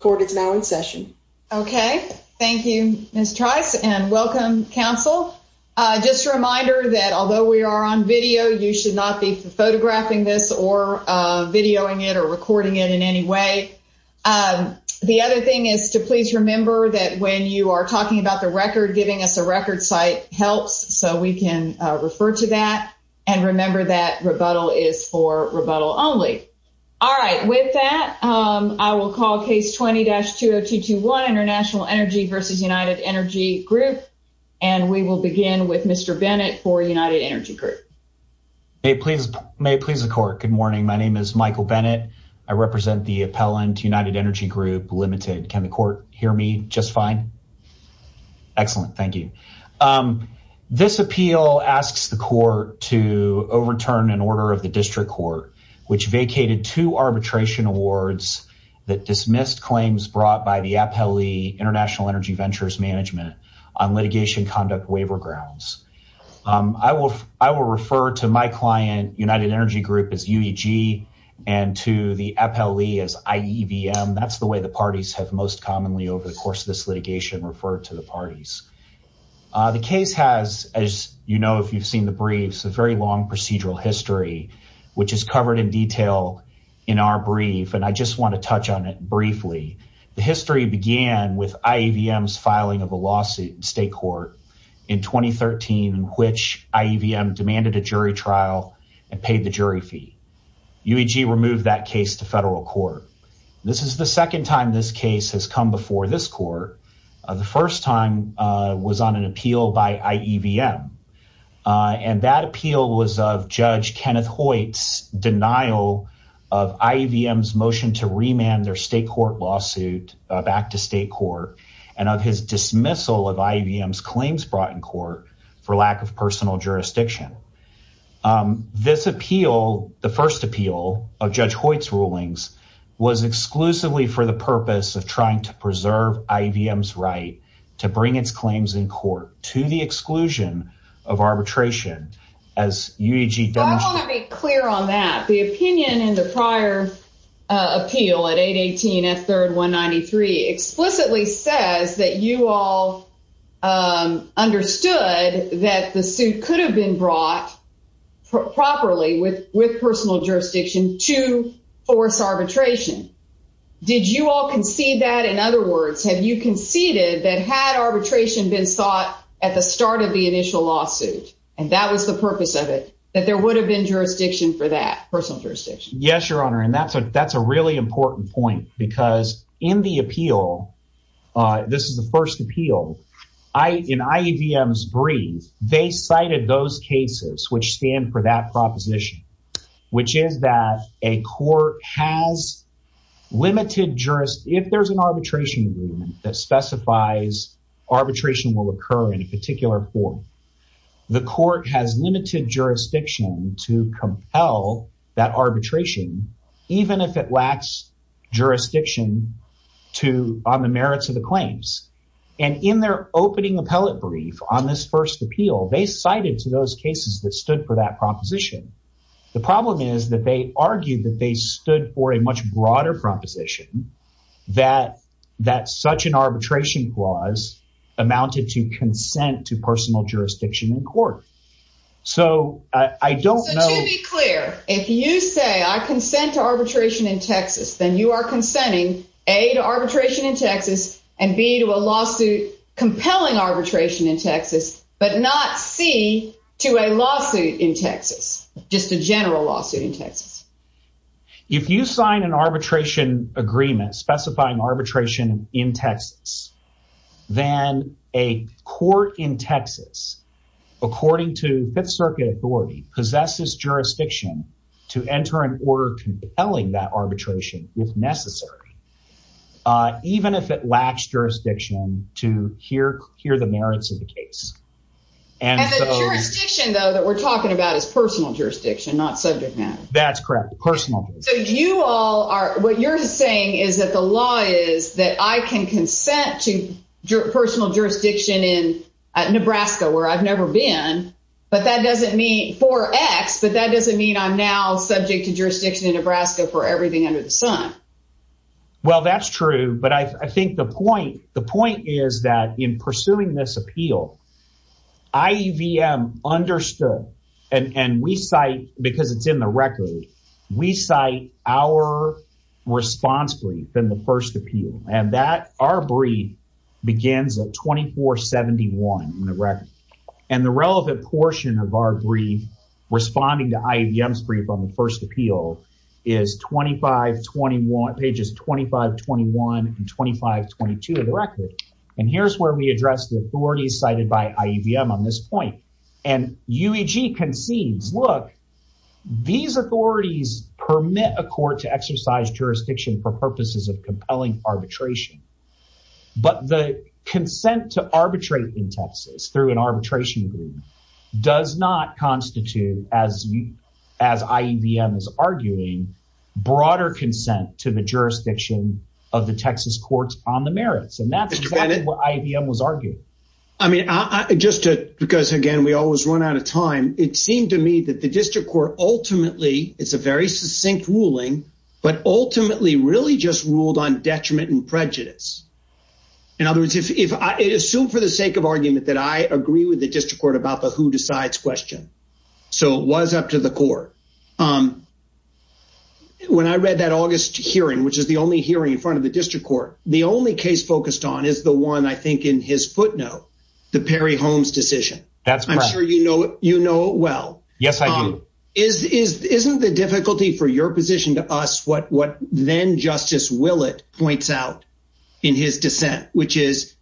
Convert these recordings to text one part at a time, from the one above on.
Court is now in session. Okay, thank you, Ms. Trice, and welcome, counsel. Just a reminder that although we are on video, you should not be photographing this or videoing it or recording it in any way. The other thing is to please remember that when you are talking about the record, giving us a record site helps, so we can refer to that. And remember that rebuttal is for 2020-20221 International Energy versus United Energy Group, and we will begin with Mr. Bennett for United Energy Group. May it please the court. Good morning, my name is Michael Bennett. I represent the appellant United Energy Group Limited. Can the court hear me just fine? Excellent, thank you. This appeal asks the court to overturn an order of the district court which vacated two arbitration awards that dismissed claims brought by the appellee International Energy Ventures Management on litigation conduct waiver grounds. I will refer to my client, United Energy Group, as UEG and to the appellee as IEVM. That's the way the parties have most commonly over the course of this litigation referred to the parties. The case has, as you know if you've seen the briefs, a very long procedural history which is covered in detail in our brief, and I just want to touch on it briefly. The history began with IEVM's filing of a lawsuit in state court in 2013 in which IEVM demanded a jury trial and paid the jury fee. UEG removed that case to federal court. This is the second time this case has come before this court. The first time was on an appeal by IEVM, and that appeal was of Judge Kenneth Hoyt's denial of IEVM's motion to remand their state court lawsuit back to state court and of his dismissal of IEVM's claims brought in court for lack of personal jurisdiction. This appeal, the first appeal of Judge Hoyt's rulings, was exclusively for the purpose of trying to preserve IEVM's right to bring its claims in of arbitration. I want to be clear on that. The opinion in the prior appeal at 818 F3rd 193 explicitly says that you all understood that the suit could have been brought properly with personal jurisdiction to force arbitration. Did you all concede that? In other and that was the purpose of it, that there would have been jurisdiction for that, personal jurisdiction? Yes, Your Honor, and that's a really important point because in the appeal, this is the first appeal, in IEVM's brief, they cited those cases which stand for that proposition, which is that a court has limited jurisdiction. If there's an arbitration agreement that specifies arbitration will occur in a particular form, the court has limited jurisdiction to compel that arbitration, even if it lacks jurisdiction on the merits of the claims. And in their opening appellate brief on this first appeal, they cited to those cases that stood for that proposition. The problem is that they argued that they stood for a much broader proposition that such an arbitration clause amounted to consent to personal jurisdiction in court. So to be clear, if you say I consent to arbitration in Texas, then you are consenting A, to arbitration in Texas, and B, to a lawsuit compelling arbitration in Texas, but not C, to a lawsuit in Texas, just a general lawsuit in Texas. If you sign an arbitration agreement specifying arbitration in Texas, then a court in Texas, according to Fifth Circuit authority, possesses jurisdiction to enter an order compelling that arbitration if necessary, even if it lacks jurisdiction to hear the merits of the case. And the jurisdiction, though, that we're talking about is personal jurisdiction, not subject matter. That's correct, personal. So you all are, what you're saying is that the law is that I can consent to personal jurisdiction in Nebraska, where I've never been, but that doesn't mean, for X, but that doesn't mean I'm now subject to jurisdiction in Nebraska for everything under the sun. Well, that's true, but I think the point is that in pursuing this because it's in the record, we cite our response brief in the first appeal, and that, our brief begins at 2471 in the record, and the relevant portion of our brief responding to IEVM's brief on the first appeal is 2521, pages 2521 and 2522 of the record, and here's where we address the these authorities permit a court to exercise jurisdiction for purposes of compelling arbitration, but the consent to arbitrate in Texas through an arbitration agreement does not constitute, as IEVM is arguing, broader consent to the jurisdiction of the Texas courts on the merits, and that's exactly what IEVM was arguing. I mean, just to, because again, we always run out of time, it seemed to me that the district court ultimately, it's a very succinct ruling, but ultimately really just ruled on detriment and prejudice. In other words, if I assume for the sake of argument that I agree with the district court about the who decides question, so it was up to the court. When I read that August hearing, which is the only hearing in front of the district court, the only case focused on is the one I think in his footnote, the Perry Holmes decision. I'm sure you know it well. Yes, I do. Isn't the difficulty for your position to us what then Justice Willett points out in his dissent, which is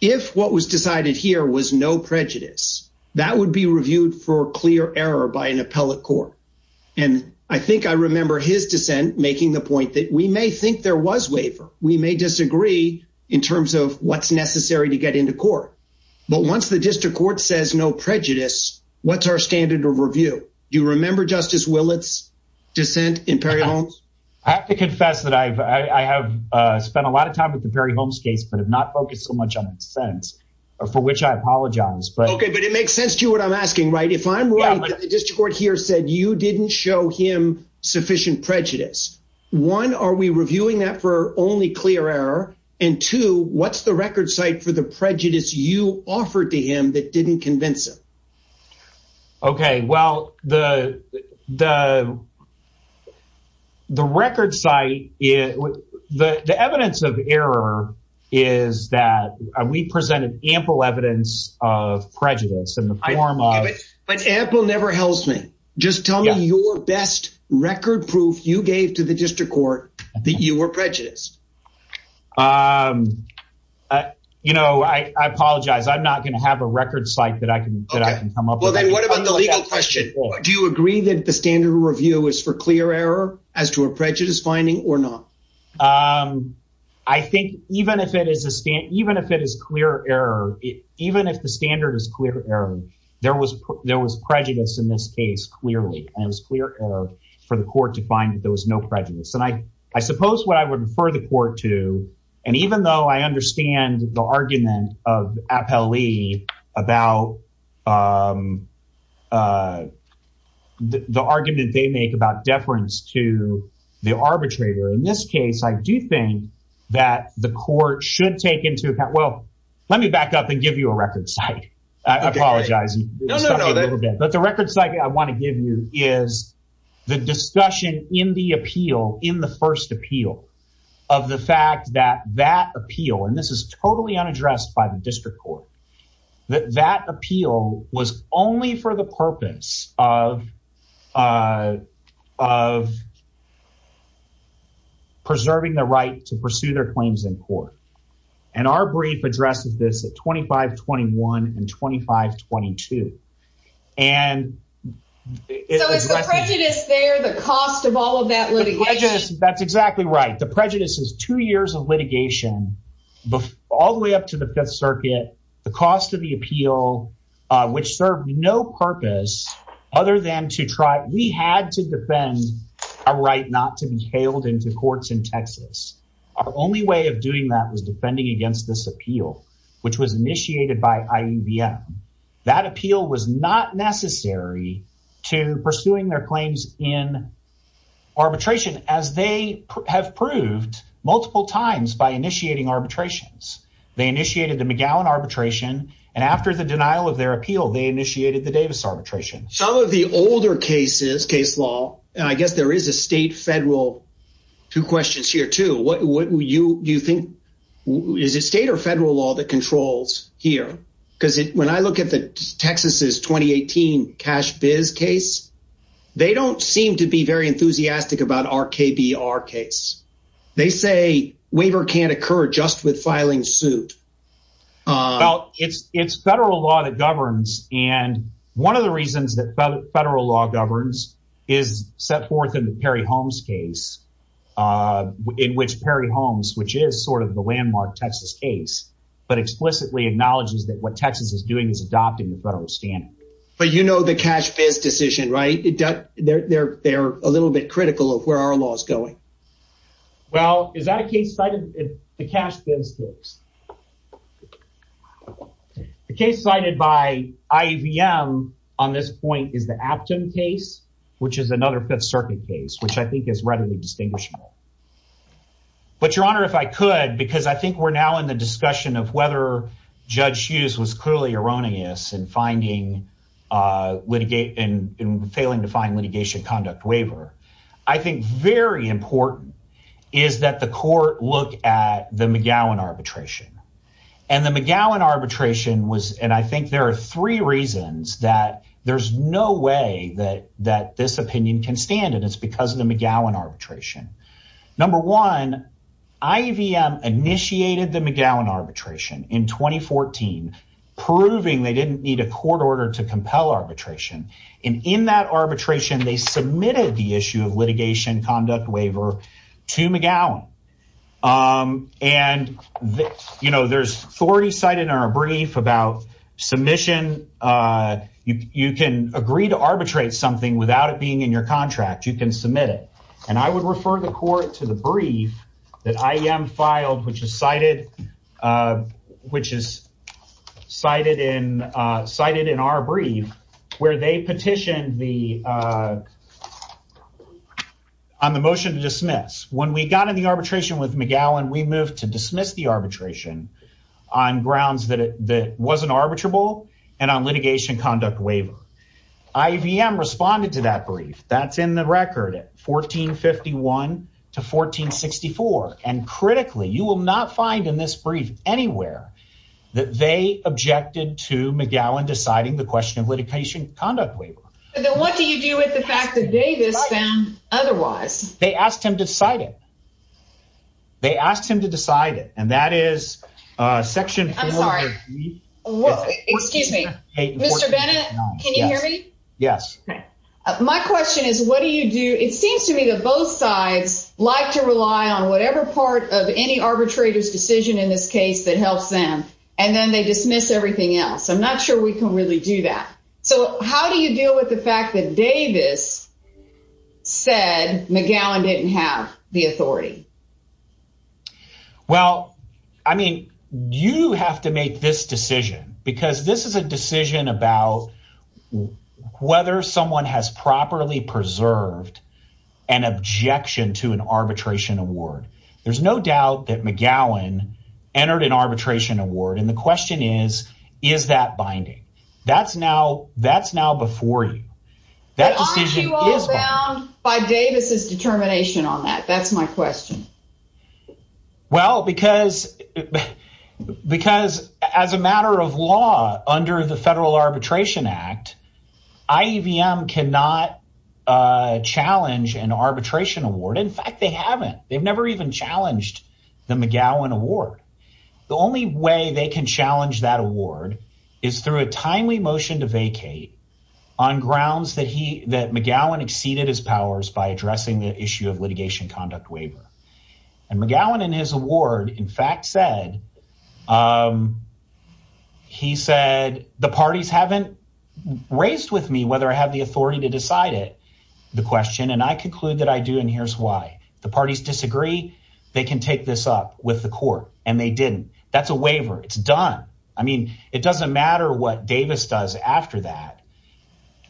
if what was decided here was no prejudice, that would be reviewed for clear error by an appellate court, and I think I remember his dissent making the point that we may think there was waiver. We may disagree in terms of what's necessary to get into court, but once the district court says no prejudice, what's our standard of review? Do you remember Justice Willett's dissent in Perry Holmes? I have to confess that I have spent a lot of time with the Perry Holmes case but have not focused so much on its sentence, for which I apologize. Okay, but it makes sense to you what I'm asking, right? If I'm right, the district court here said you didn't show him clear error, and two, what's the record site for the prejudice you offered to him that didn't convince him? Okay, well, the record site, the evidence of error is that we presented ample evidence of prejudice in the form of... But ample never helps me. Just tell me your best record proof you gave to the district court that you were prejudiced. You know, I apologize. I'm not going to have a record site that I can come up with. Well, then what about the legal question? Do you agree that the standard of review is for clear error as to a prejudice finding or not? I think even if it is clear error, even if the standard is clear error, there was prejudice in this case clearly, and it was clear error for the court to find that there was no prejudice. And I suppose what I would refer the court to, and even though I understand the argument of Appellee about the argument they make about deference to the arbitrator, in this case, I do think that the court should take into account... Well, let me back up and give you a record site. I apologize. But the record site I want to give you is the discussion in the appeal, in the first appeal, of the fact that that appeal, and this is totally unaddressed by the district court, that that appeal was only for the purpose of preserving the right to pursue their claims in 2521 and 2522. So is the prejudice there, the cost of all of that litigation? That's exactly right. The prejudice is two years of litigation, all the way up to the Fifth Circuit, the cost of the appeal, which served no purpose other than to try... We had to defend our right not to be hailed into courts in Texas. Our only way of doing that was defending against this appeal, which was initiated by IEVM. That appeal was not necessary to pursuing their claims in arbitration, as they have proved multiple times by initiating arbitrations. They initiated the McGowan arbitration, and after the denial of their appeal, they initiated the Davis arbitration. Some of the older cases, case law, and I guess there is a state-federal... Two questions here, too. Is it state or federal law that controls here? Because when I look at Texas' 2018 Cash Biz case, they don't seem to be very enthusiastic about our KBR case. They say waiver can't occur just with filing suit. Well, it's federal law that governs, and one of the reasons that federal law governs is set forth in the Perry Holmes case, in which Perry Holmes, which is sort of the landmark Texas case, but explicitly acknowledges that what Texas is doing is adopting the federal standard. But you know the Cash Biz decision, right? They're a little bit critical of where our law is going. Well, is that a case cited in the Cash Biz case? The case cited by IVM on this point is the Afton case, which is another Fifth Circuit case, which I think is readily distinguishable. But, Your Honor, if I could, because I think we're now in the discussion of whether Judge Hughes was clearly erroneous in failing to find litigation conduct waiver, I think very important is that the court look at the McGowan arbitration. And the McGowan arbitration was, and I think there are three reasons that there's no way that this opinion can stand, and it's because of the McGowan arbitration. Number one, IVM initiated the McGowan arbitration in 2014, proving they didn't need a court order to compel arbitration. And in that arbitration, they submitted the issue of litigation conduct waiver to McGowan. And, you know, there's authority cited in our brief about submission. You can agree to arbitrate something without it being in your contract. You can submit it. And I would refer the court to the brief that IVM filed, which is cited in our brief, where they petitioned on the motion to dismiss. When we got in the arbitration with McGowan, we moved to dismiss the arbitration on grounds that it wasn't arbitrable and on litigation conduct waiver. IVM responded to that brief. That's in the record at 1451 to 1464. And critically, you will not find in this brief anywhere that they objected to McGowan deciding the question of litigation conduct waiver. But then what do you do with the fact that Davis found otherwise? They asked him to decide it. They asked him to decide it. And that is Section 4. I'm sorry. Excuse me. Mr. Bennett, can you hear me? Yes. My question is, what do you do? It seems to me that both sides like to rely on whatever part of any arbitrator's decision in this case that helps them, and then they dismiss everything else. I'm not sure we can really do that. So how do you deal with the fact that Davis said McGowan didn't have the authority? Well, I mean, you have to make this decision because this is a decision about whether someone has properly preserved an objection to an arbitration award. There's no doubt that McGowan entered an arbitration award. And the question is, is that binding? That's now before you. But aren't you all bound by Davis's determination on that? That's my question. Well, because as a matter of law under the Federal Arbitration Act, IEVM cannot challenge an arbitration award. In fact, they haven't. They've never even challenged the McGowan award. The only way they can challenge that award is through a timely motion to vacate on grounds that McGowan exceeded his powers by addressing the issue of litigation conduct waiver. And McGowan in his award, in fact, said, he said, the parties haven't raised with me whether I have the authority to decide the question. And I conclude that I do. And here's why. The parties disagree. They can take this up with the court. And they didn't. That's a waiver. It's done. I mean, it doesn't matter what Davis does after that.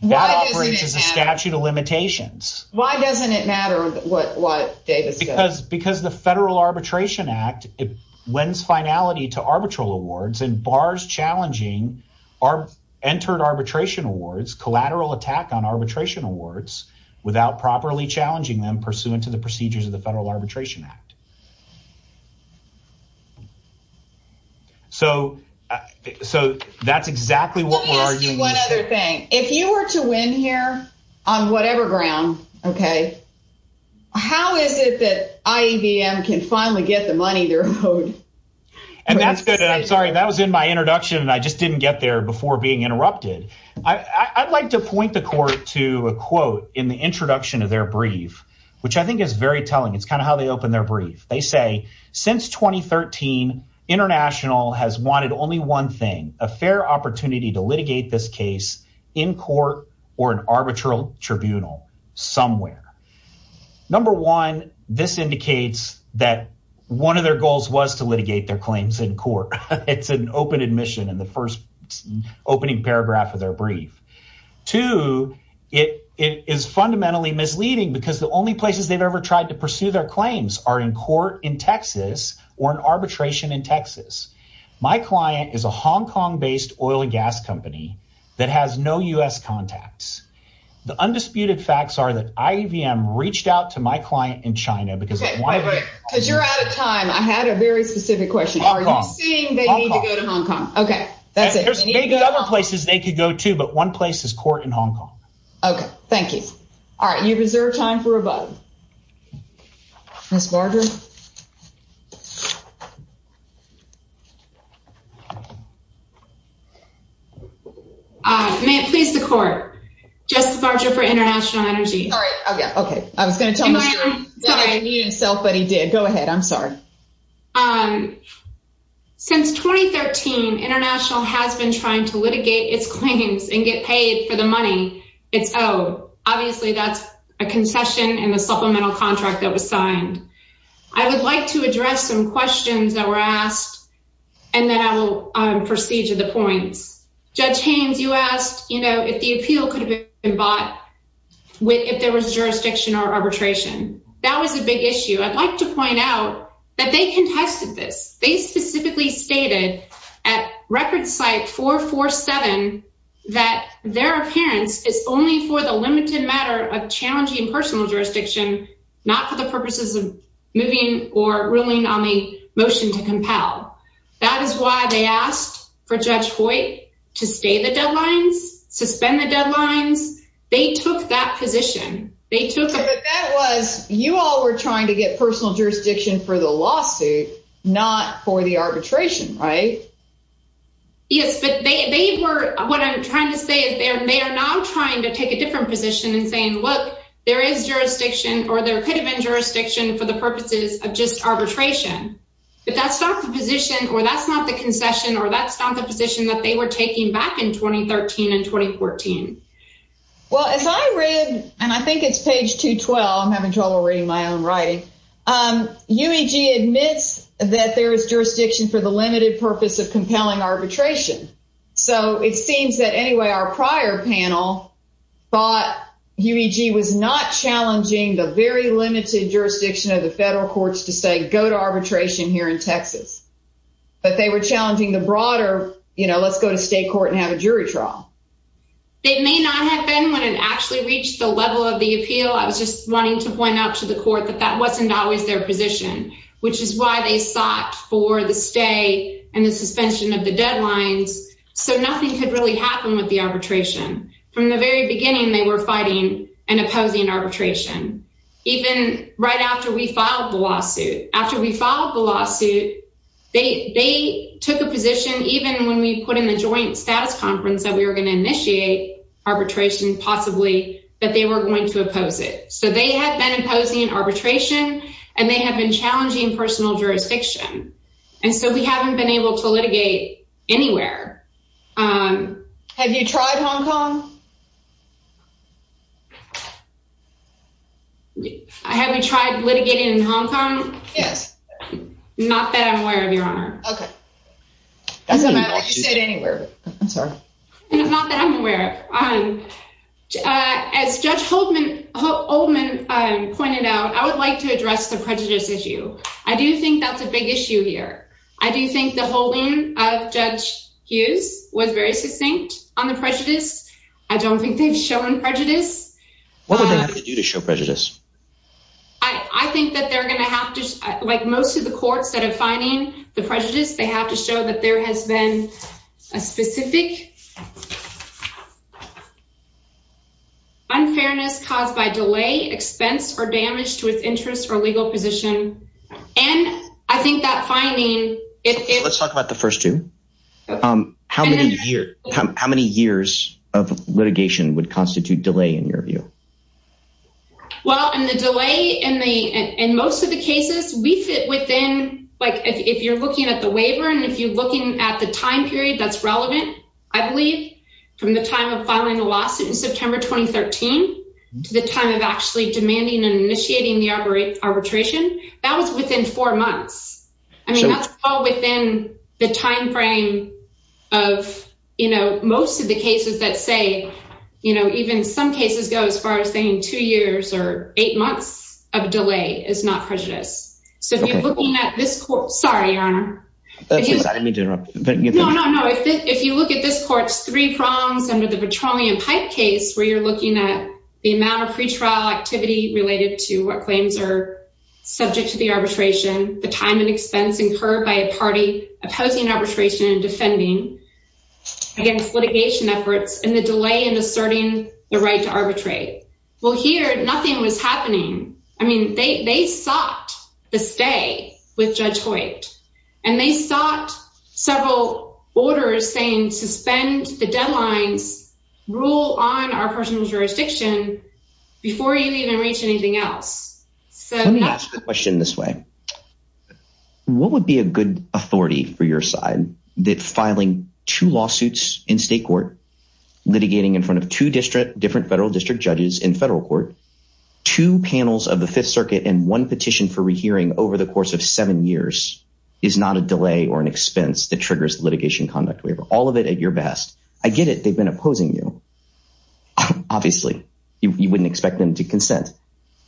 That operates as a statute of limitations. Why doesn't it matter what Davis does? Because the Federal Arbitration Act, it lends finality to arbitral awards and bars challenging our entered arbitration awards, collateral attack on arbitration awards without properly challenging them pursuant to the procedures of the Federal Arbitration Act. So, so that's exactly what we're arguing. One other thing, if you were to win here on whatever ground, okay, how is it that IEVM can finally get the money they're owed? And that's good. And I'm sorry, that was in my introduction and I just didn't get there before being interrupted. I'd like to point the court to a quote in the introduction of their brief, which I think is very telling. It's kind of how they open their brief. They say, since 2013, international has wanted only one thing, a fair opportunity to litigate this case in court or an arbitral tribunal somewhere. Number one, this indicates that one of their goals was litigate their claims in court. It's an open admission in the first opening paragraph of their brief. Two, it is fundamentally misleading because the only places they've ever tried to pursue their claims are in court in Texas or an arbitration in Texas. My client is a Hong Kong based oil and gas company that has no US contacts. The undisputed facts are that IEVM reached out to my client in China. Because you're out of time. I had a very specific question. Are you saying they need to go to Hong Kong? Okay. That's it. There's maybe other places they could go to, but one place is court in Hong Kong. Okay. Thank you. All right. You deserve time for a button. Ms. Barger. May it please the court, Justice Barger for International Energy. Okay. I was going to tell him that I knew himself, but he did. Go ahead. I'm sorry. Since 2013, International has been trying to litigate its claims and get paid for the money it's owed. Obviously, that's a concession and a supplemental contract that was signed. I would like to address some questions that were asked, and then I will proceed to the points. Judge Haynes, you asked if the appeal could have been bought if there was jurisdiction or arbitration. That was a big issue. I'd like to point out that they contested this. They specifically stated at record site 447 that their appearance is only for the limited matter of challenging personal jurisdiction, not for the purposes of moving or ruling on the motion to compel. That is why they asked for Judge Hoyt to stay the deadlines, suspend the deadlines. They took that position. You all were trying to get personal jurisdiction for the lawsuit, not for the arbitration, right? Yes, but what I'm trying to say is they are now trying to take a different position and saying, look, there is jurisdiction or there could have been jurisdiction for the purposes of just arbitration, but that's not the position or that's not the concession or that's not the position that they were taking back in 2013 and 2014. Well, as I read, and I think it's page 212, I'm having trouble reading my own writing, UEG admits that there is jurisdiction for the limited purpose of compelling arbitration. So it seems that anyway, our prior panel thought limited jurisdiction of the federal courts to say go to arbitration here in Texas, but they were challenging the broader, you know, let's go to state court and have a jury trial. It may not have been when it actually reached the level of the appeal. I was just wanting to point out to the court that that wasn't always their position, which is why they sought for the stay and the suspension of the deadlines. So nothing could really happen with the arbitration. From the very beginning, they were fighting and opposing arbitration, even right after we filed the lawsuit. After we filed the lawsuit, they took a position, even when we put in the joint status conference that we were going to initiate arbitration, possibly that they were going to oppose it. So they have been imposing arbitration and they have been challenging personal jurisdiction. And so we haven't been able to litigate anywhere. Um, have you tried Hong Kong? I haven't tried litigating in Hong Kong. Yes. Not that I'm aware of your honor. Okay. That's not what you said anywhere. I'm sorry. Not that I'm aware of. Um, as Judge Holtman, Holtman pointed out, I would like to address the prejudice issue. I do think that's a big issue here. I do think the holding of Judge Hughes was very succinct on the prejudice. I don't think they've shown prejudice. What would they do to show prejudice? I think that they're going to have to, like most of the courts that are finding the prejudice, they have to show that there has been a specific unfairness caused by delay, expense or damage to its interest or legal position. And I think that finding it, let's talk about the first two. Um, how many years, how many years of litigation would constitute delay in your view? Well, and the delay in the, in most of the cases we fit within, like, if you're looking at the from the time of filing a lawsuit in September, 2013, to the time of actually demanding and initiating the arbitration, that was within four months. I mean, that's all within the timeframe of, you know, most of the cases that say, you know, even some cases go as far as saying two years or eight months of delay is not prejudice. So if you're looking at this court, sorry, I didn't mean to interrupt. No, no, no. If you look at this court's three prongs under the Petroleum Pipe case, where you're looking at the amount of pretrial activity related to what claims are subject to the arbitration, the time and expense incurred by a party opposing arbitration and defending against litigation efforts and the delay in asserting the right to arbitrate. Well, here, nothing was happening. I mean, they, they sought the stay with Judge White and they sought several orders saying suspend the deadlines, rule on our personal jurisdiction before you even reach anything else. So that's the question this way. What would be a good authority for your side that filing two lawsuits in state court, litigating in front of two different federal district judges in federal court, two panels of the Fifth Circuit and one petition for rehearing over the course of seven years is not a delay or an expense that triggers litigation conduct waiver. All of it at your best. I get it. They've been opposing you. Obviously, you wouldn't expect them to consent.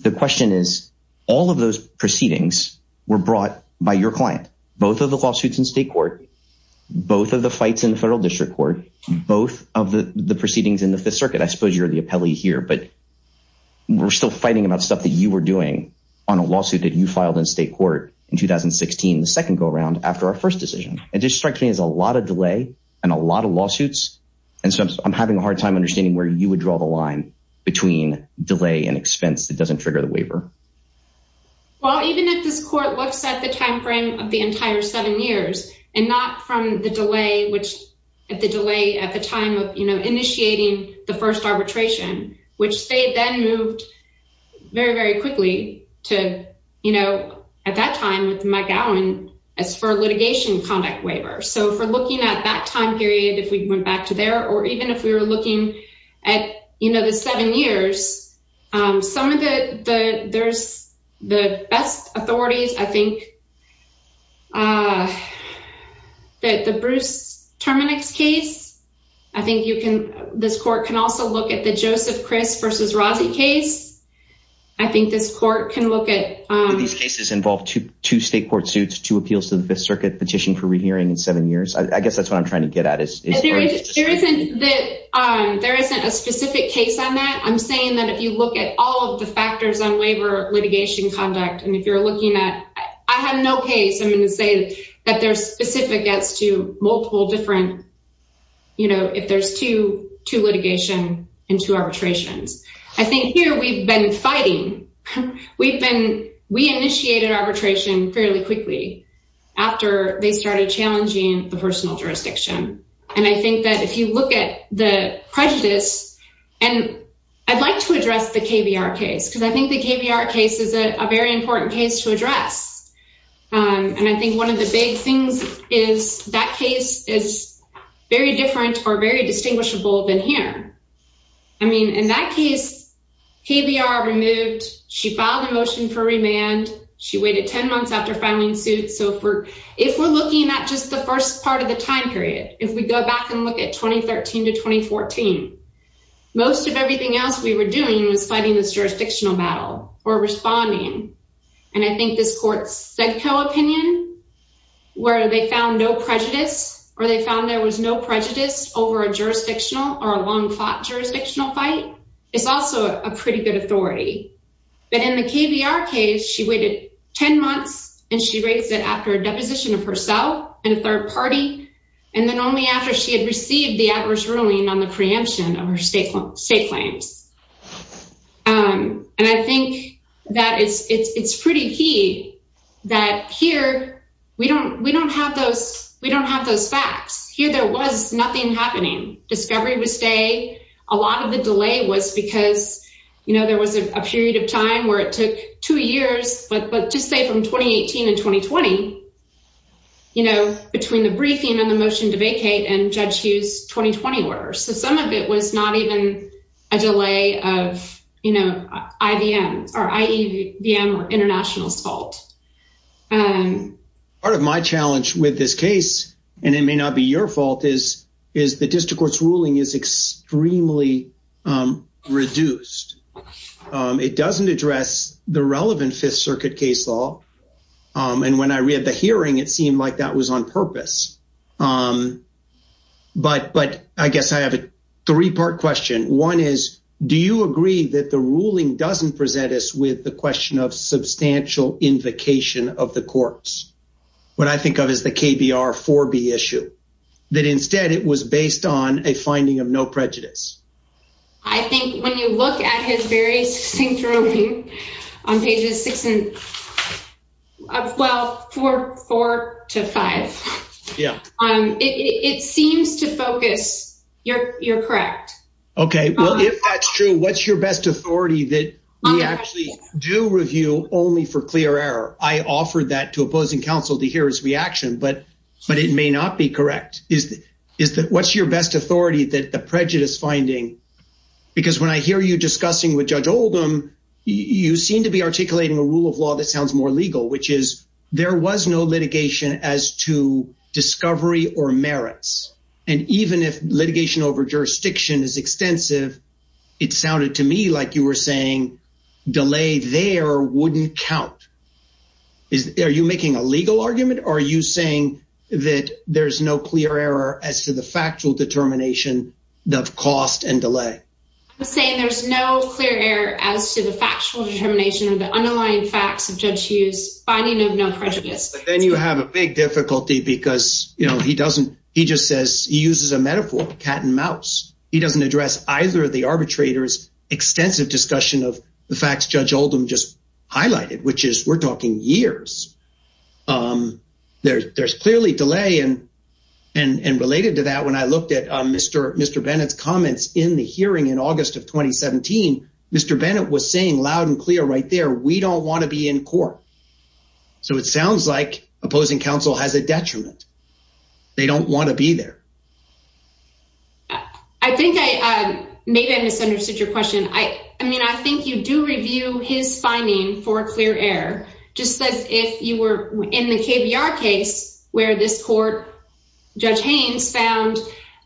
The question is, all of those proceedings were brought by your client, both of the lawsuits in state court, both of the fights in the federal district court, both of the proceedings in the circuit. I suppose you're the appellee here, but we're still fighting about stuff that you were doing on a lawsuit that you filed in state court in 2016, the second go around after our first decision. And just striking is a lot of delay and a lot of lawsuits. And so I'm having a hard time understanding where you would draw the line between delay and expense. It doesn't trigger the waiver. Well, even if this court looks at the timeframe of the entire seven years and not from the delay, which at the delay at the time of initiating the first arbitration, which they then moved very, very quickly to, at that time with Mike Allen as for litigation conduct waiver. So for looking at that time period, if we went back to there, or even if we were looking at the seven years, um, some of the, the, there's the best authorities. I think, uh, that the Bruce Terminix case, I think you can, this court can also look at the Joseph Chris versus Rossi case. I think this court can look at, um, these cases involve two, two state court suits, two appeals to the fifth circuit petition for rehearing in seven years. I guess that's what I'm trying to get at. There isn't that, um, there isn't a specific case on that. I'm saying that if you look at all of the factors on waiver litigation conduct, and if you're looking at, I have no case, I'm going to say that they're specific as to multiple different, you know, if there's two, two litigation and two arbitrations, I think here, we've been fighting, we've been, we initiated arbitration fairly quickly after they started challenging the personal jurisdiction. And I think that if you look at the prejudice and I'd like to address the KBR case, because I think the KBR case is a very important case to address. Um, and I think one of the big things is that case is very different or very distinguishable than here. I mean, in that case, KBR removed, she filed a motion for remand. She waited 10 months after filing suits. So for, if we're looking at just the first part of the time period, if we go back and look at 2013 to 2014, most of everything else we were doing was fighting this jurisdictional battle or responding. And I think this court's SEDCO opinion where they found no prejudice or they found there was no prejudice over a jurisdictional or a long fought jurisdictional fight is also a pretty good authority. But in the KBR case, she waited 10 months and she raised it after a deposition of herself and a third party. And then only after she had received the adverse ruling on the preemption of her state state claims. Um, and I think that it's, it's, it's pretty key that here we don't, we don't have those, we don't have those facts here. There was nothing happening. Discovery was a lot of the delay was because, you know, there was a period of time where it took two years, but, but just say from 2018 and 2020, you know, between the briefing and the motion to vacate and judge Hughes 2020 orders. So some of it was not even a delay of, you know, IBM or IEVM or international's fault. Um, part of my challenge with this case, and it may not be your fault is, is the district court's ruling is extremely, um, reduced. Um, it doesn't address the relevant fifth circuit case law. Um, and when I read the hearing, it seemed like that was on purpose. Um, but, but I guess I have a three part question. One is, do you agree that the ruling doesn't present us with the question of substantial invocation of the courts? What I think of the KBR four B issue that instead it was based on a finding of no prejudice. I think when you look at his various things on pages six and well, four, four to five, yeah. Um, it, it seems to focus you're, you're correct. Okay. Well, if that's true, what's your best authority that we actually do review only for but, but it may not be correct. Is that, is that what's your best authority that the prejudice finding, because when I hear you discussing with judge Oldham, you seem to be articulating a rule of law that sounds more legal, which is there was no litigation as to discovery or merits. And even if litigation over jurisdiction is extensive, it sounded to me like you were saying delay there wouldn't count. Is there, are you making a legal argument or are you saying that there's no clear error as to the factual determination of cost and delay? I'm saying there's no clear error as to the factual determination of the underlying facts of judge Hughes finding of no prejudice. Then you have a big difficulty because, you know, he doesn't, he just says he uses a metaphor cat and mouse. He doesn't address either the arbitrators extensive discussion of the facts judge Oldham just highlighted, which is we're talking years. There there's clearly delay. And, and, and related to that, when I looked at Mr. Mr. Bennett's comments in the hearing in August of 2017, Mr. Bennett was saying loud and clear right there. We don't want to be in court. So it sounds like opposing council has detriment. They don't want to be there. I think I maybe I misunderstood your question. I mean, I think you do review his finding for clear air, just as if you were in the KBR case where this court judge Haynes found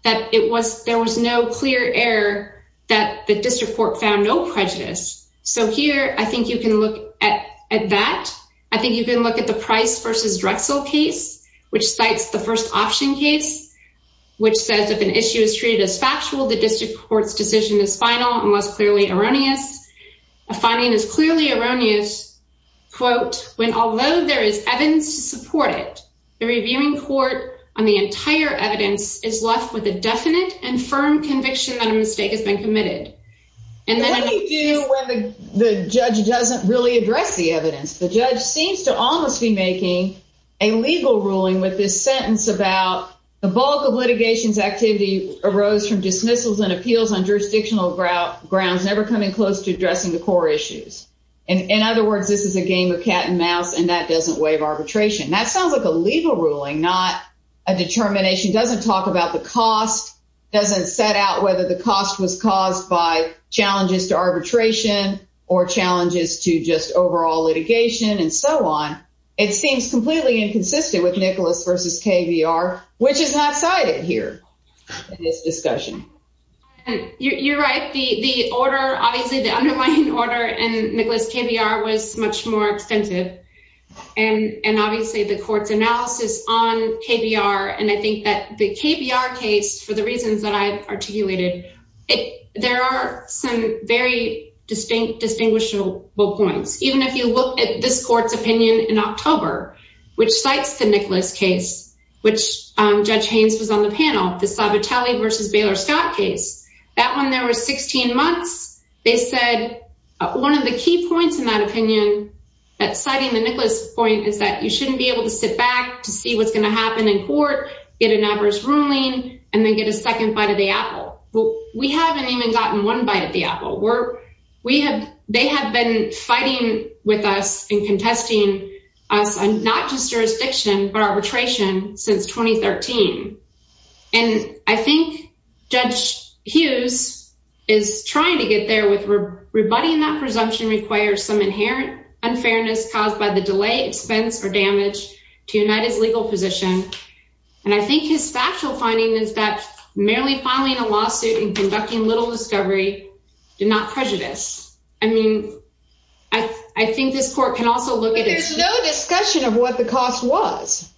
that it was, there was no clear air that the district court found no prejudice. So here, I think you can look at that. I think you can look at the which cites the first option case, which says if an issue is treated as factual, the district court's decision is final and less clearly erroneous. A finding is clearly erroneous quote, when, although there is evidence to support it, the reviewing court on the entire evidence is left with a definite and firm conviction that a mistake has been committed. And then when the judge doesn't really address the evidence, the judge seems to almost be making a legal ruling with this sentence about the bulk of litigation's activity arose from dismissals and appeals on jurisdictional grout grounds, never coming close to addressing the core issues. And in other words, this is a game of cat and mouse and that doesn't waive arbitration. That sounds like a legal ruling, not a determination doesn't talk about the cost, doesn't set out whether the cost was caused by challenges to litigation and so on. It seems completely inconsistent with Nicholas versus KBR, which is not cited here in this discussion. You're right. The order, obviously the underlying order and Nicholas KBR was much more extensive and obviously the court's analysis on KBR. And I think that the KBR case, for the reasons that I articulated, there are some very distinct points. Even if you look at this court's opinion in October, which cites the Nicholas case, which Judge Haynes was on the panel, the Sabatelli versus Baylor Scott case, that one there was 16 months. They said one of the key points in that opinion, that citing the Nicholas point is that you shouldn't be able to sit back to see what's going to happen in court, get an adverse ruling and then get a second bite of the apple. We haven't even gotten one bite of the apple. They have been fighting with us and contesting us on not just jurisdiction, but arbitration since 2013. And I think Judge Hughes is trying to get there with rebutting that presumption requires some inherent unfairness caused by the delay, expense or damage to United's legal position. And I think his factual finding is that merely filing a lawsuit and conducting little discovery did not prejudice. I mean, I think this court can also look at it. There's no discussion of what the cost was.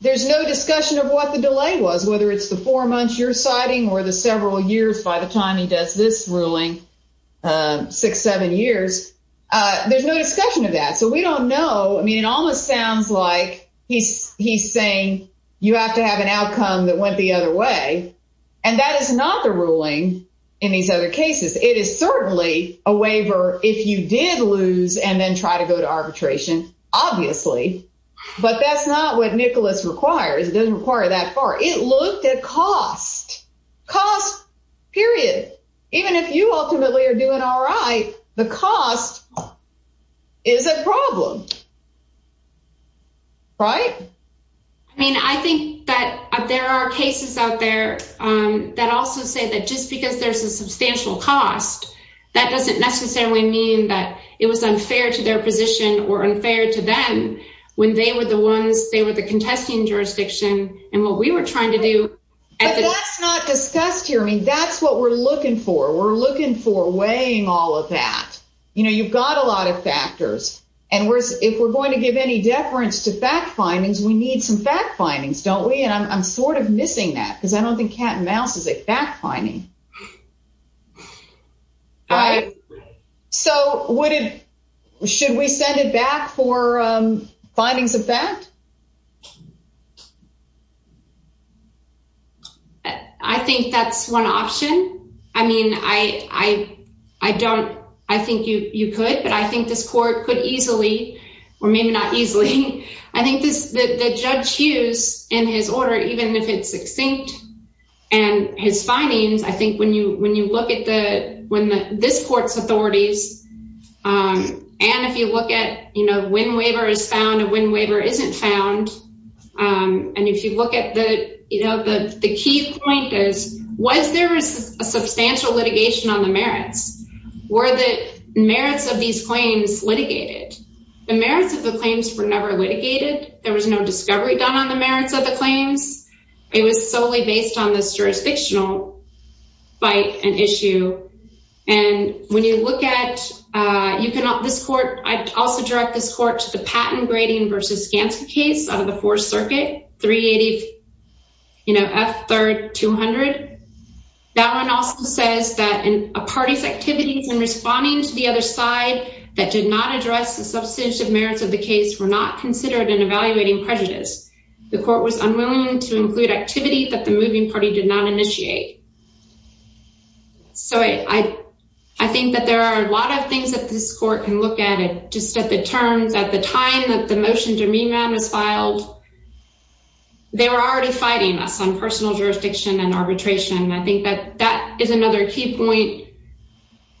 There's no discussion of what the delay was, whether it's the four months you're citing or the several years by the time he does this ruling, six, seven years. There's no discussion of that. So we don't know. I mean, it almost sounds like he's saying you have to have an outcome that went the other way. And that is not the ruling in these other cases. It is certainly a waiver if you did lose and then try to go to arbitration, obviously. But that's not what Nicholas requires. It doesn't require that far. It looked at cost, cost, period. Even if you ultimately are doing all right, the cost is a problem. Right? I mean, I think that there are cases out there that also say that just because there's a substantial cost, that doesn't necessarily mean that it was unfair to their position or unfair to them when they were the ones, they were the contesting jurisdiction and what we were trying to do. But that's not discussed here. I mean, that's what we're looking for. We're looking for weighing all of that. You know, you've got a lot of factors. And if we're going to give any findings, we need some fact findings, don't we? And I'm sort of missing that because I don't think cat and mouse is a fact finding. So should we send it back for findings of that? I think that's one option. I mean, I don't I think you could, but I think this court could I think the judge Hughes in his order, even if it's succinct and his findings, I think when you look at this court's authorities and if you look at, you know, when waiver is found and when waiver isn't found. And if you look at the, you know, the key point is, was there a substantial litigation on the merits? Were the merits of these claims litigated? The merits of the claims were never litigated. There was no discovery done on the merits of the claims. It was solely based on this jurisdictional fight and issue. And when you look at this court, I'd also direct this court to the patent grading versus Gantz case out of the Fourth Circuit, 380, you know, F third 200. That one also says that a party's activities in responding to the other side that did not address the substantive merits of the case were not considered in evaluating prejudice. The court was unwilling to include activity that the moving party did not initiate. So I think that there are a lot of things that this court can look at it, just at the terms at the time that the motion to remand was filed, they were already fighting us personal jurisdiction and arbitration. And I think that that is another key point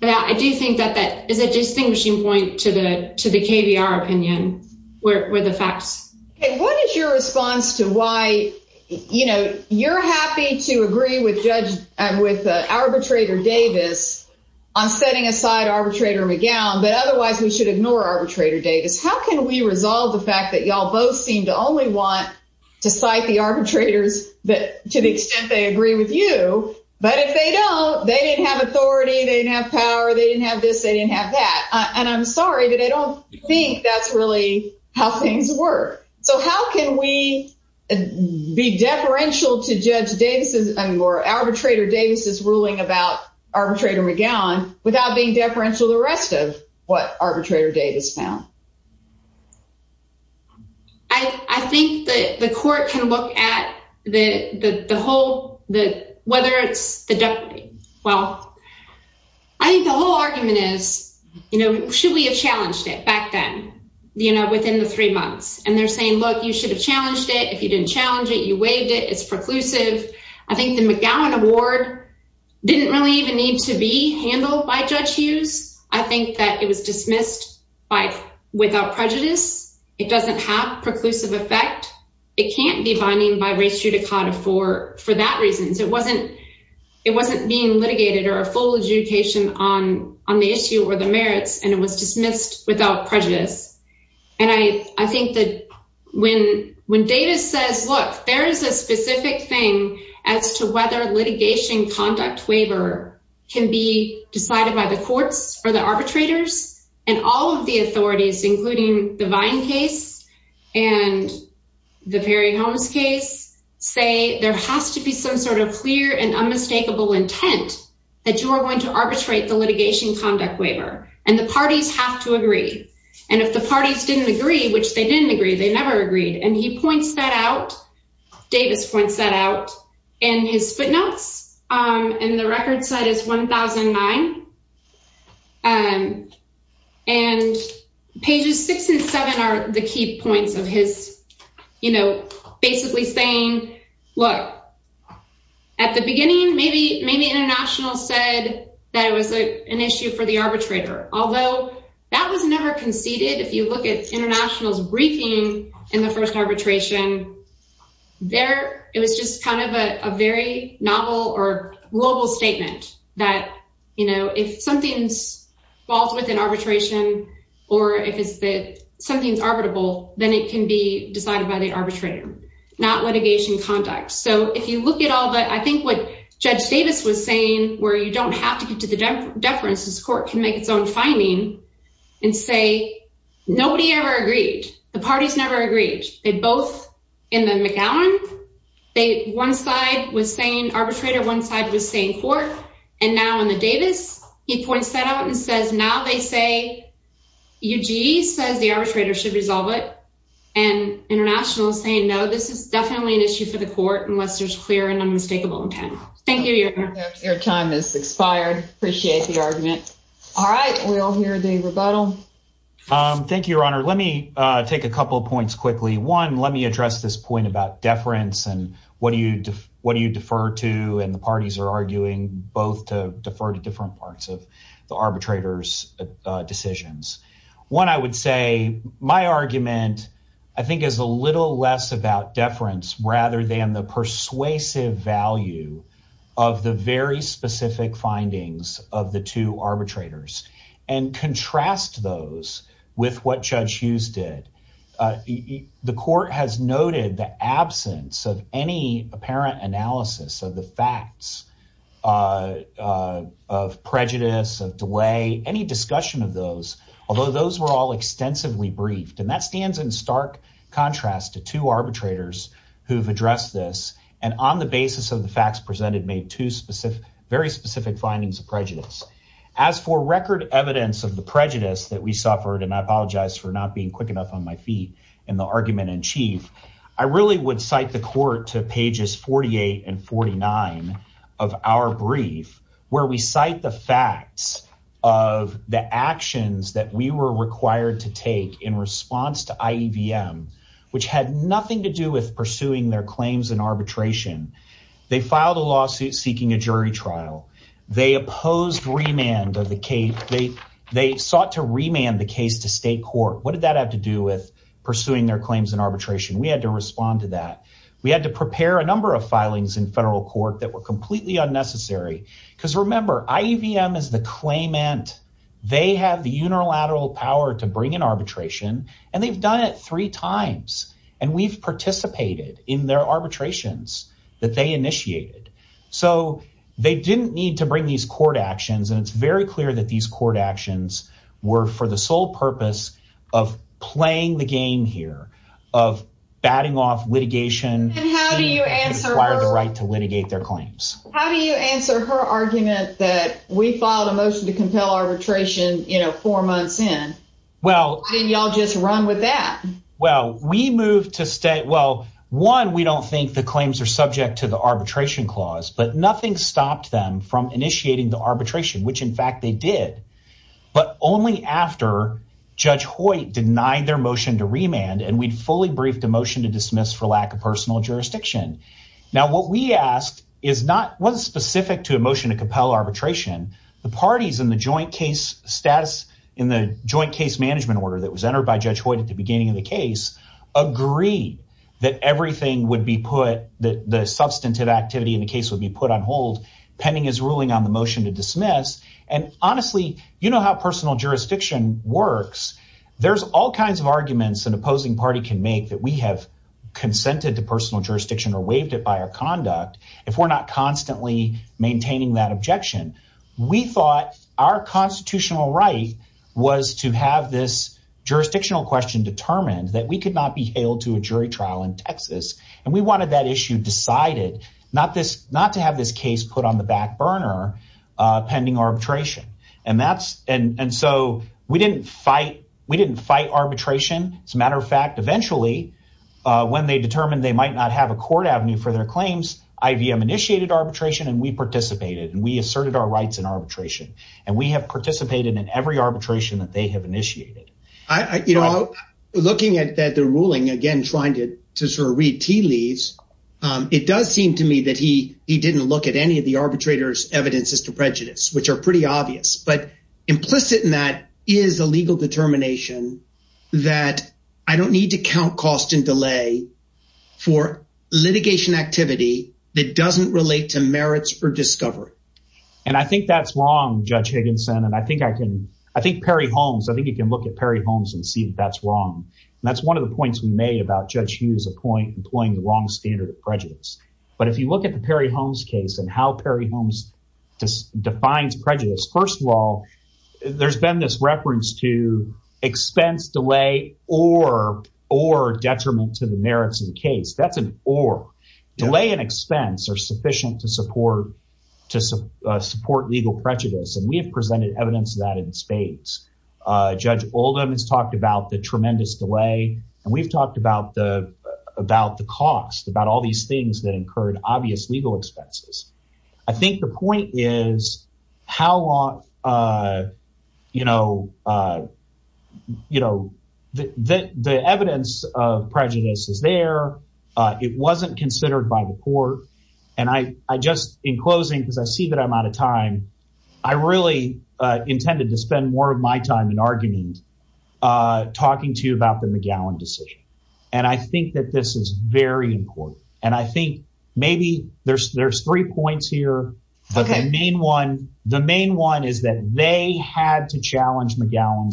that I do think that that is a distinguishing point to the, to the KBR opinion where the facts. What is your response to why, you know, you're happy to agree with judge and with arbitrator Davis on setting aside arbitrator McGowan, but otherwise we should ignore arbitrator Davis. How can we resolve the fact that y'all both seem to only want to cite the arbitrators that to the extent they agree with you, but if they don't, they didn't have authority. They didn't have power. They didn't have this. They didn't have that. And I'm sorry, but I don't think that's really how things work. So how can we be deferential to judge Davis's or arbitrator Davis's ruling about arbitrator McGowan without being deferential to the rest of what arbitrator Davis found? I think that the court can look at the whole, the, whether it's the deputy. Well, I think the whole argument is, you know, should we have challenged it back then, you know, within the three months and they're saying, look, you should have challenged it. If you didn't challenge it, you waived it. It's preclusive. I think the McGowan award didn't really even need to be handled by judge Hughes. I think that it was dismissed by without prejudice. It doesn't have preclusive effect. It can't be binding by race judicata for, for that reason. So it wasn't, it wasn't being litigated or a full adjudication on, on the issue or the merits. And it was dismissed without prejudice. And I, I think that when, when Davis says, look, there is a specific thing as to whether litigation conduct waiver can be decided by the courts or the arbitrators and all of the authorities, including the vine case and the Perry homes case say there has to be some sort of clear and unmistakable intent that you are going to arbitrate the litigation conduct waiver. And the parties have to agree. And if the parties didn't agree, which they didn't agree, they never agreed. And he points that out. Davis points that out in his footnotes. And the record side is 1009. And pages six and seven are the key points of his, you know, basically saying, look, at the beginning, maybe, maybe international said that it was an issue for the arbitrator, although that was never conceded. If you look at international's briefing in the first arbitration, there, it was just kind of a very novel or global statement that, you know, if something's falls within arbitration, or if it's that something's arbitrable, then it can be decided by the arbitrator, not litigation conduct. So if you look at all that, I think what judge Davis was saying, where you don't have to get to the deference, this court can make its own finding and say, nobody ever agreed. The parties never agreed. They both in the McAllen, they one side was saying arbitrator, one side was saying court. And now in the Davis, he points that out and says now they say, Eugene says the arbitrator should resolve it. And international saying no, this is definitely an issue for the court unless there's clear and Thank you. Your time is expired. Appreciate the argument. All right. We all hear the rebuttal. Thank you, your honor. Let me take a couple of points quickly. One, let me address this point about deference. And what do you, what do you defer to? And the parties are arguing both to defer to different parts of the arbitrators decisions. One, I would say my about deference rather than the persuasive value of the very specific findings of the two arbitrators and contrast those with what judge Hughes did. Uh, the court has noted the absence of any apparent analysis of the facts, uh, uh, of prejudice of delay, any discussion of those, although those were all extensively briefed and that stands in stark contrast to two arbitrators who've addressed this. And on the basis of the facts presented, made two specific, very specific findings of prejudice as for record evidence of the prejudice that we suffered. And I apologize for not being quick enough on my feet and the argument in chief, I really would the court to pages 48 and 49 of our brief where we cite the facts of the actions that we were required to take in response to IEVM, which had nothing to do with pursuing their claims and arbitration. They filed a lawsuit seeking a jury trial. They opposed remand of the case. They, they sought to remand the case to state court. What did that have to do with pursuing their We had to prepare a number of filings in federal court that were completely unnecessary because remember, IEVM is the claimant. They have the unilateral power to bring an arbitration and they've done it three times and we've participated in their arbitrations that they initiated. So they didn't need to bring these court actions. And it's very clear that these of batting off litigation. How do you answer the right to litigate their claims? How do you answer her argument that we filed a motion to compel arbitration, you know, four months in? Well, y'all just run with that. Well, we moved to state. Well, one, we don't think the claims are subject to the arbitration clause, but nothing stopped them from initiating the arbitration, which in fact they did, but only after judge Hoyt denied their motion to remand. And we'd fully briefed a motion to dismiss for lack of personal jurisdiction. Now, what we asked is not one specific to emotion to compel arbitration, the parties in the joint case status in the joint case management order that was entered by judge Hoyt at the beginning of the case agree that everything would be put that the substantive activity in the case would be put on hold pending his ruling on the motion to dismiss. And honestly, you know how personal jurisdiction works. There's all kinds of arguments and opposing party can make that we have consented to personal jurisdiction or waived it by our conduct. If we're not constantly maintaining that objection, we thought our constitutional right was to have this jurisdictional question determined that we could not be hailed to a jury trial in Texas. And we wanted that issue decided not to have this case put on the back burner pending arbitration. And so we didn't fight arbitration. As a matter of fact, eventually when they determined they might not have a court avenue for their claims, IVM initiated arbitration and we participated and we asserted our rights in arbitration. And we have participated in every arbitration that they have initiated. You know, looking at the ruling again, trying to sort of read tea leaves, it does seem to me that he he didn't look at any of the arbitrators evidences to prejudice, which are pretty obvious, but implicit in that is a legal determination that I don't need to count cost and delay for litigation activity that doesn't relate to merits or discovery. And I think that's wrong, Judge Higginson. And I think I can I think Perry Holmes, I think you can look at Perry Holmes and see that that's wrong. And that's one of the points we made about Judge Hughes appoint employing the wrong standard of prejudice. But if you look at the Perry Holmes case and how Perry Holmes defines prejudice, first of all, there's been this reference to expense delay or or detriment to the merits of the case. That's an or delay and expense are sufficient to support to support legal prejudice. And we have presented evidence of in spades. Judge Oldham has talked about the tremendous delay. And we've talked about the about the cost, about all these things that incurred obvious legal expenses. I think the point is how long, you know, you know, that the evidence of prejudice is there. It wasn't considered by the court. And I just in closing, because I see that I'm out of time. I really intended to spend more of my time in argument, talking to you about the McGowan decision. And I think that this is very important. And I think maybe there's there's three points here. But the main one, the main one is that they had to challenge McGowan.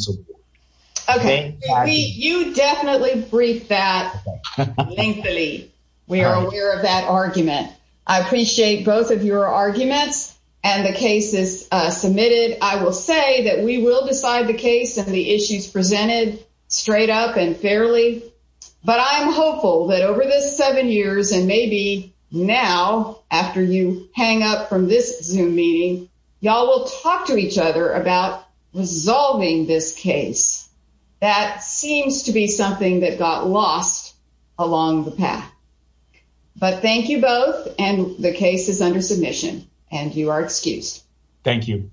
Okay, you definitely briefed that. Thankfully, we are aware of that argument. I appreciate both your arguments. And the case is submitted, I will say that we will decide the case and the issues presented straight up and fairly. But I'm hopeful that over the seven years, and maybe now, after you hang up from this zoom meeting, y'all will talk to each other about resolving this case. That seems to be something that got lost along the path. But thank you both. And the case is under submission, and you are excused. Thank you.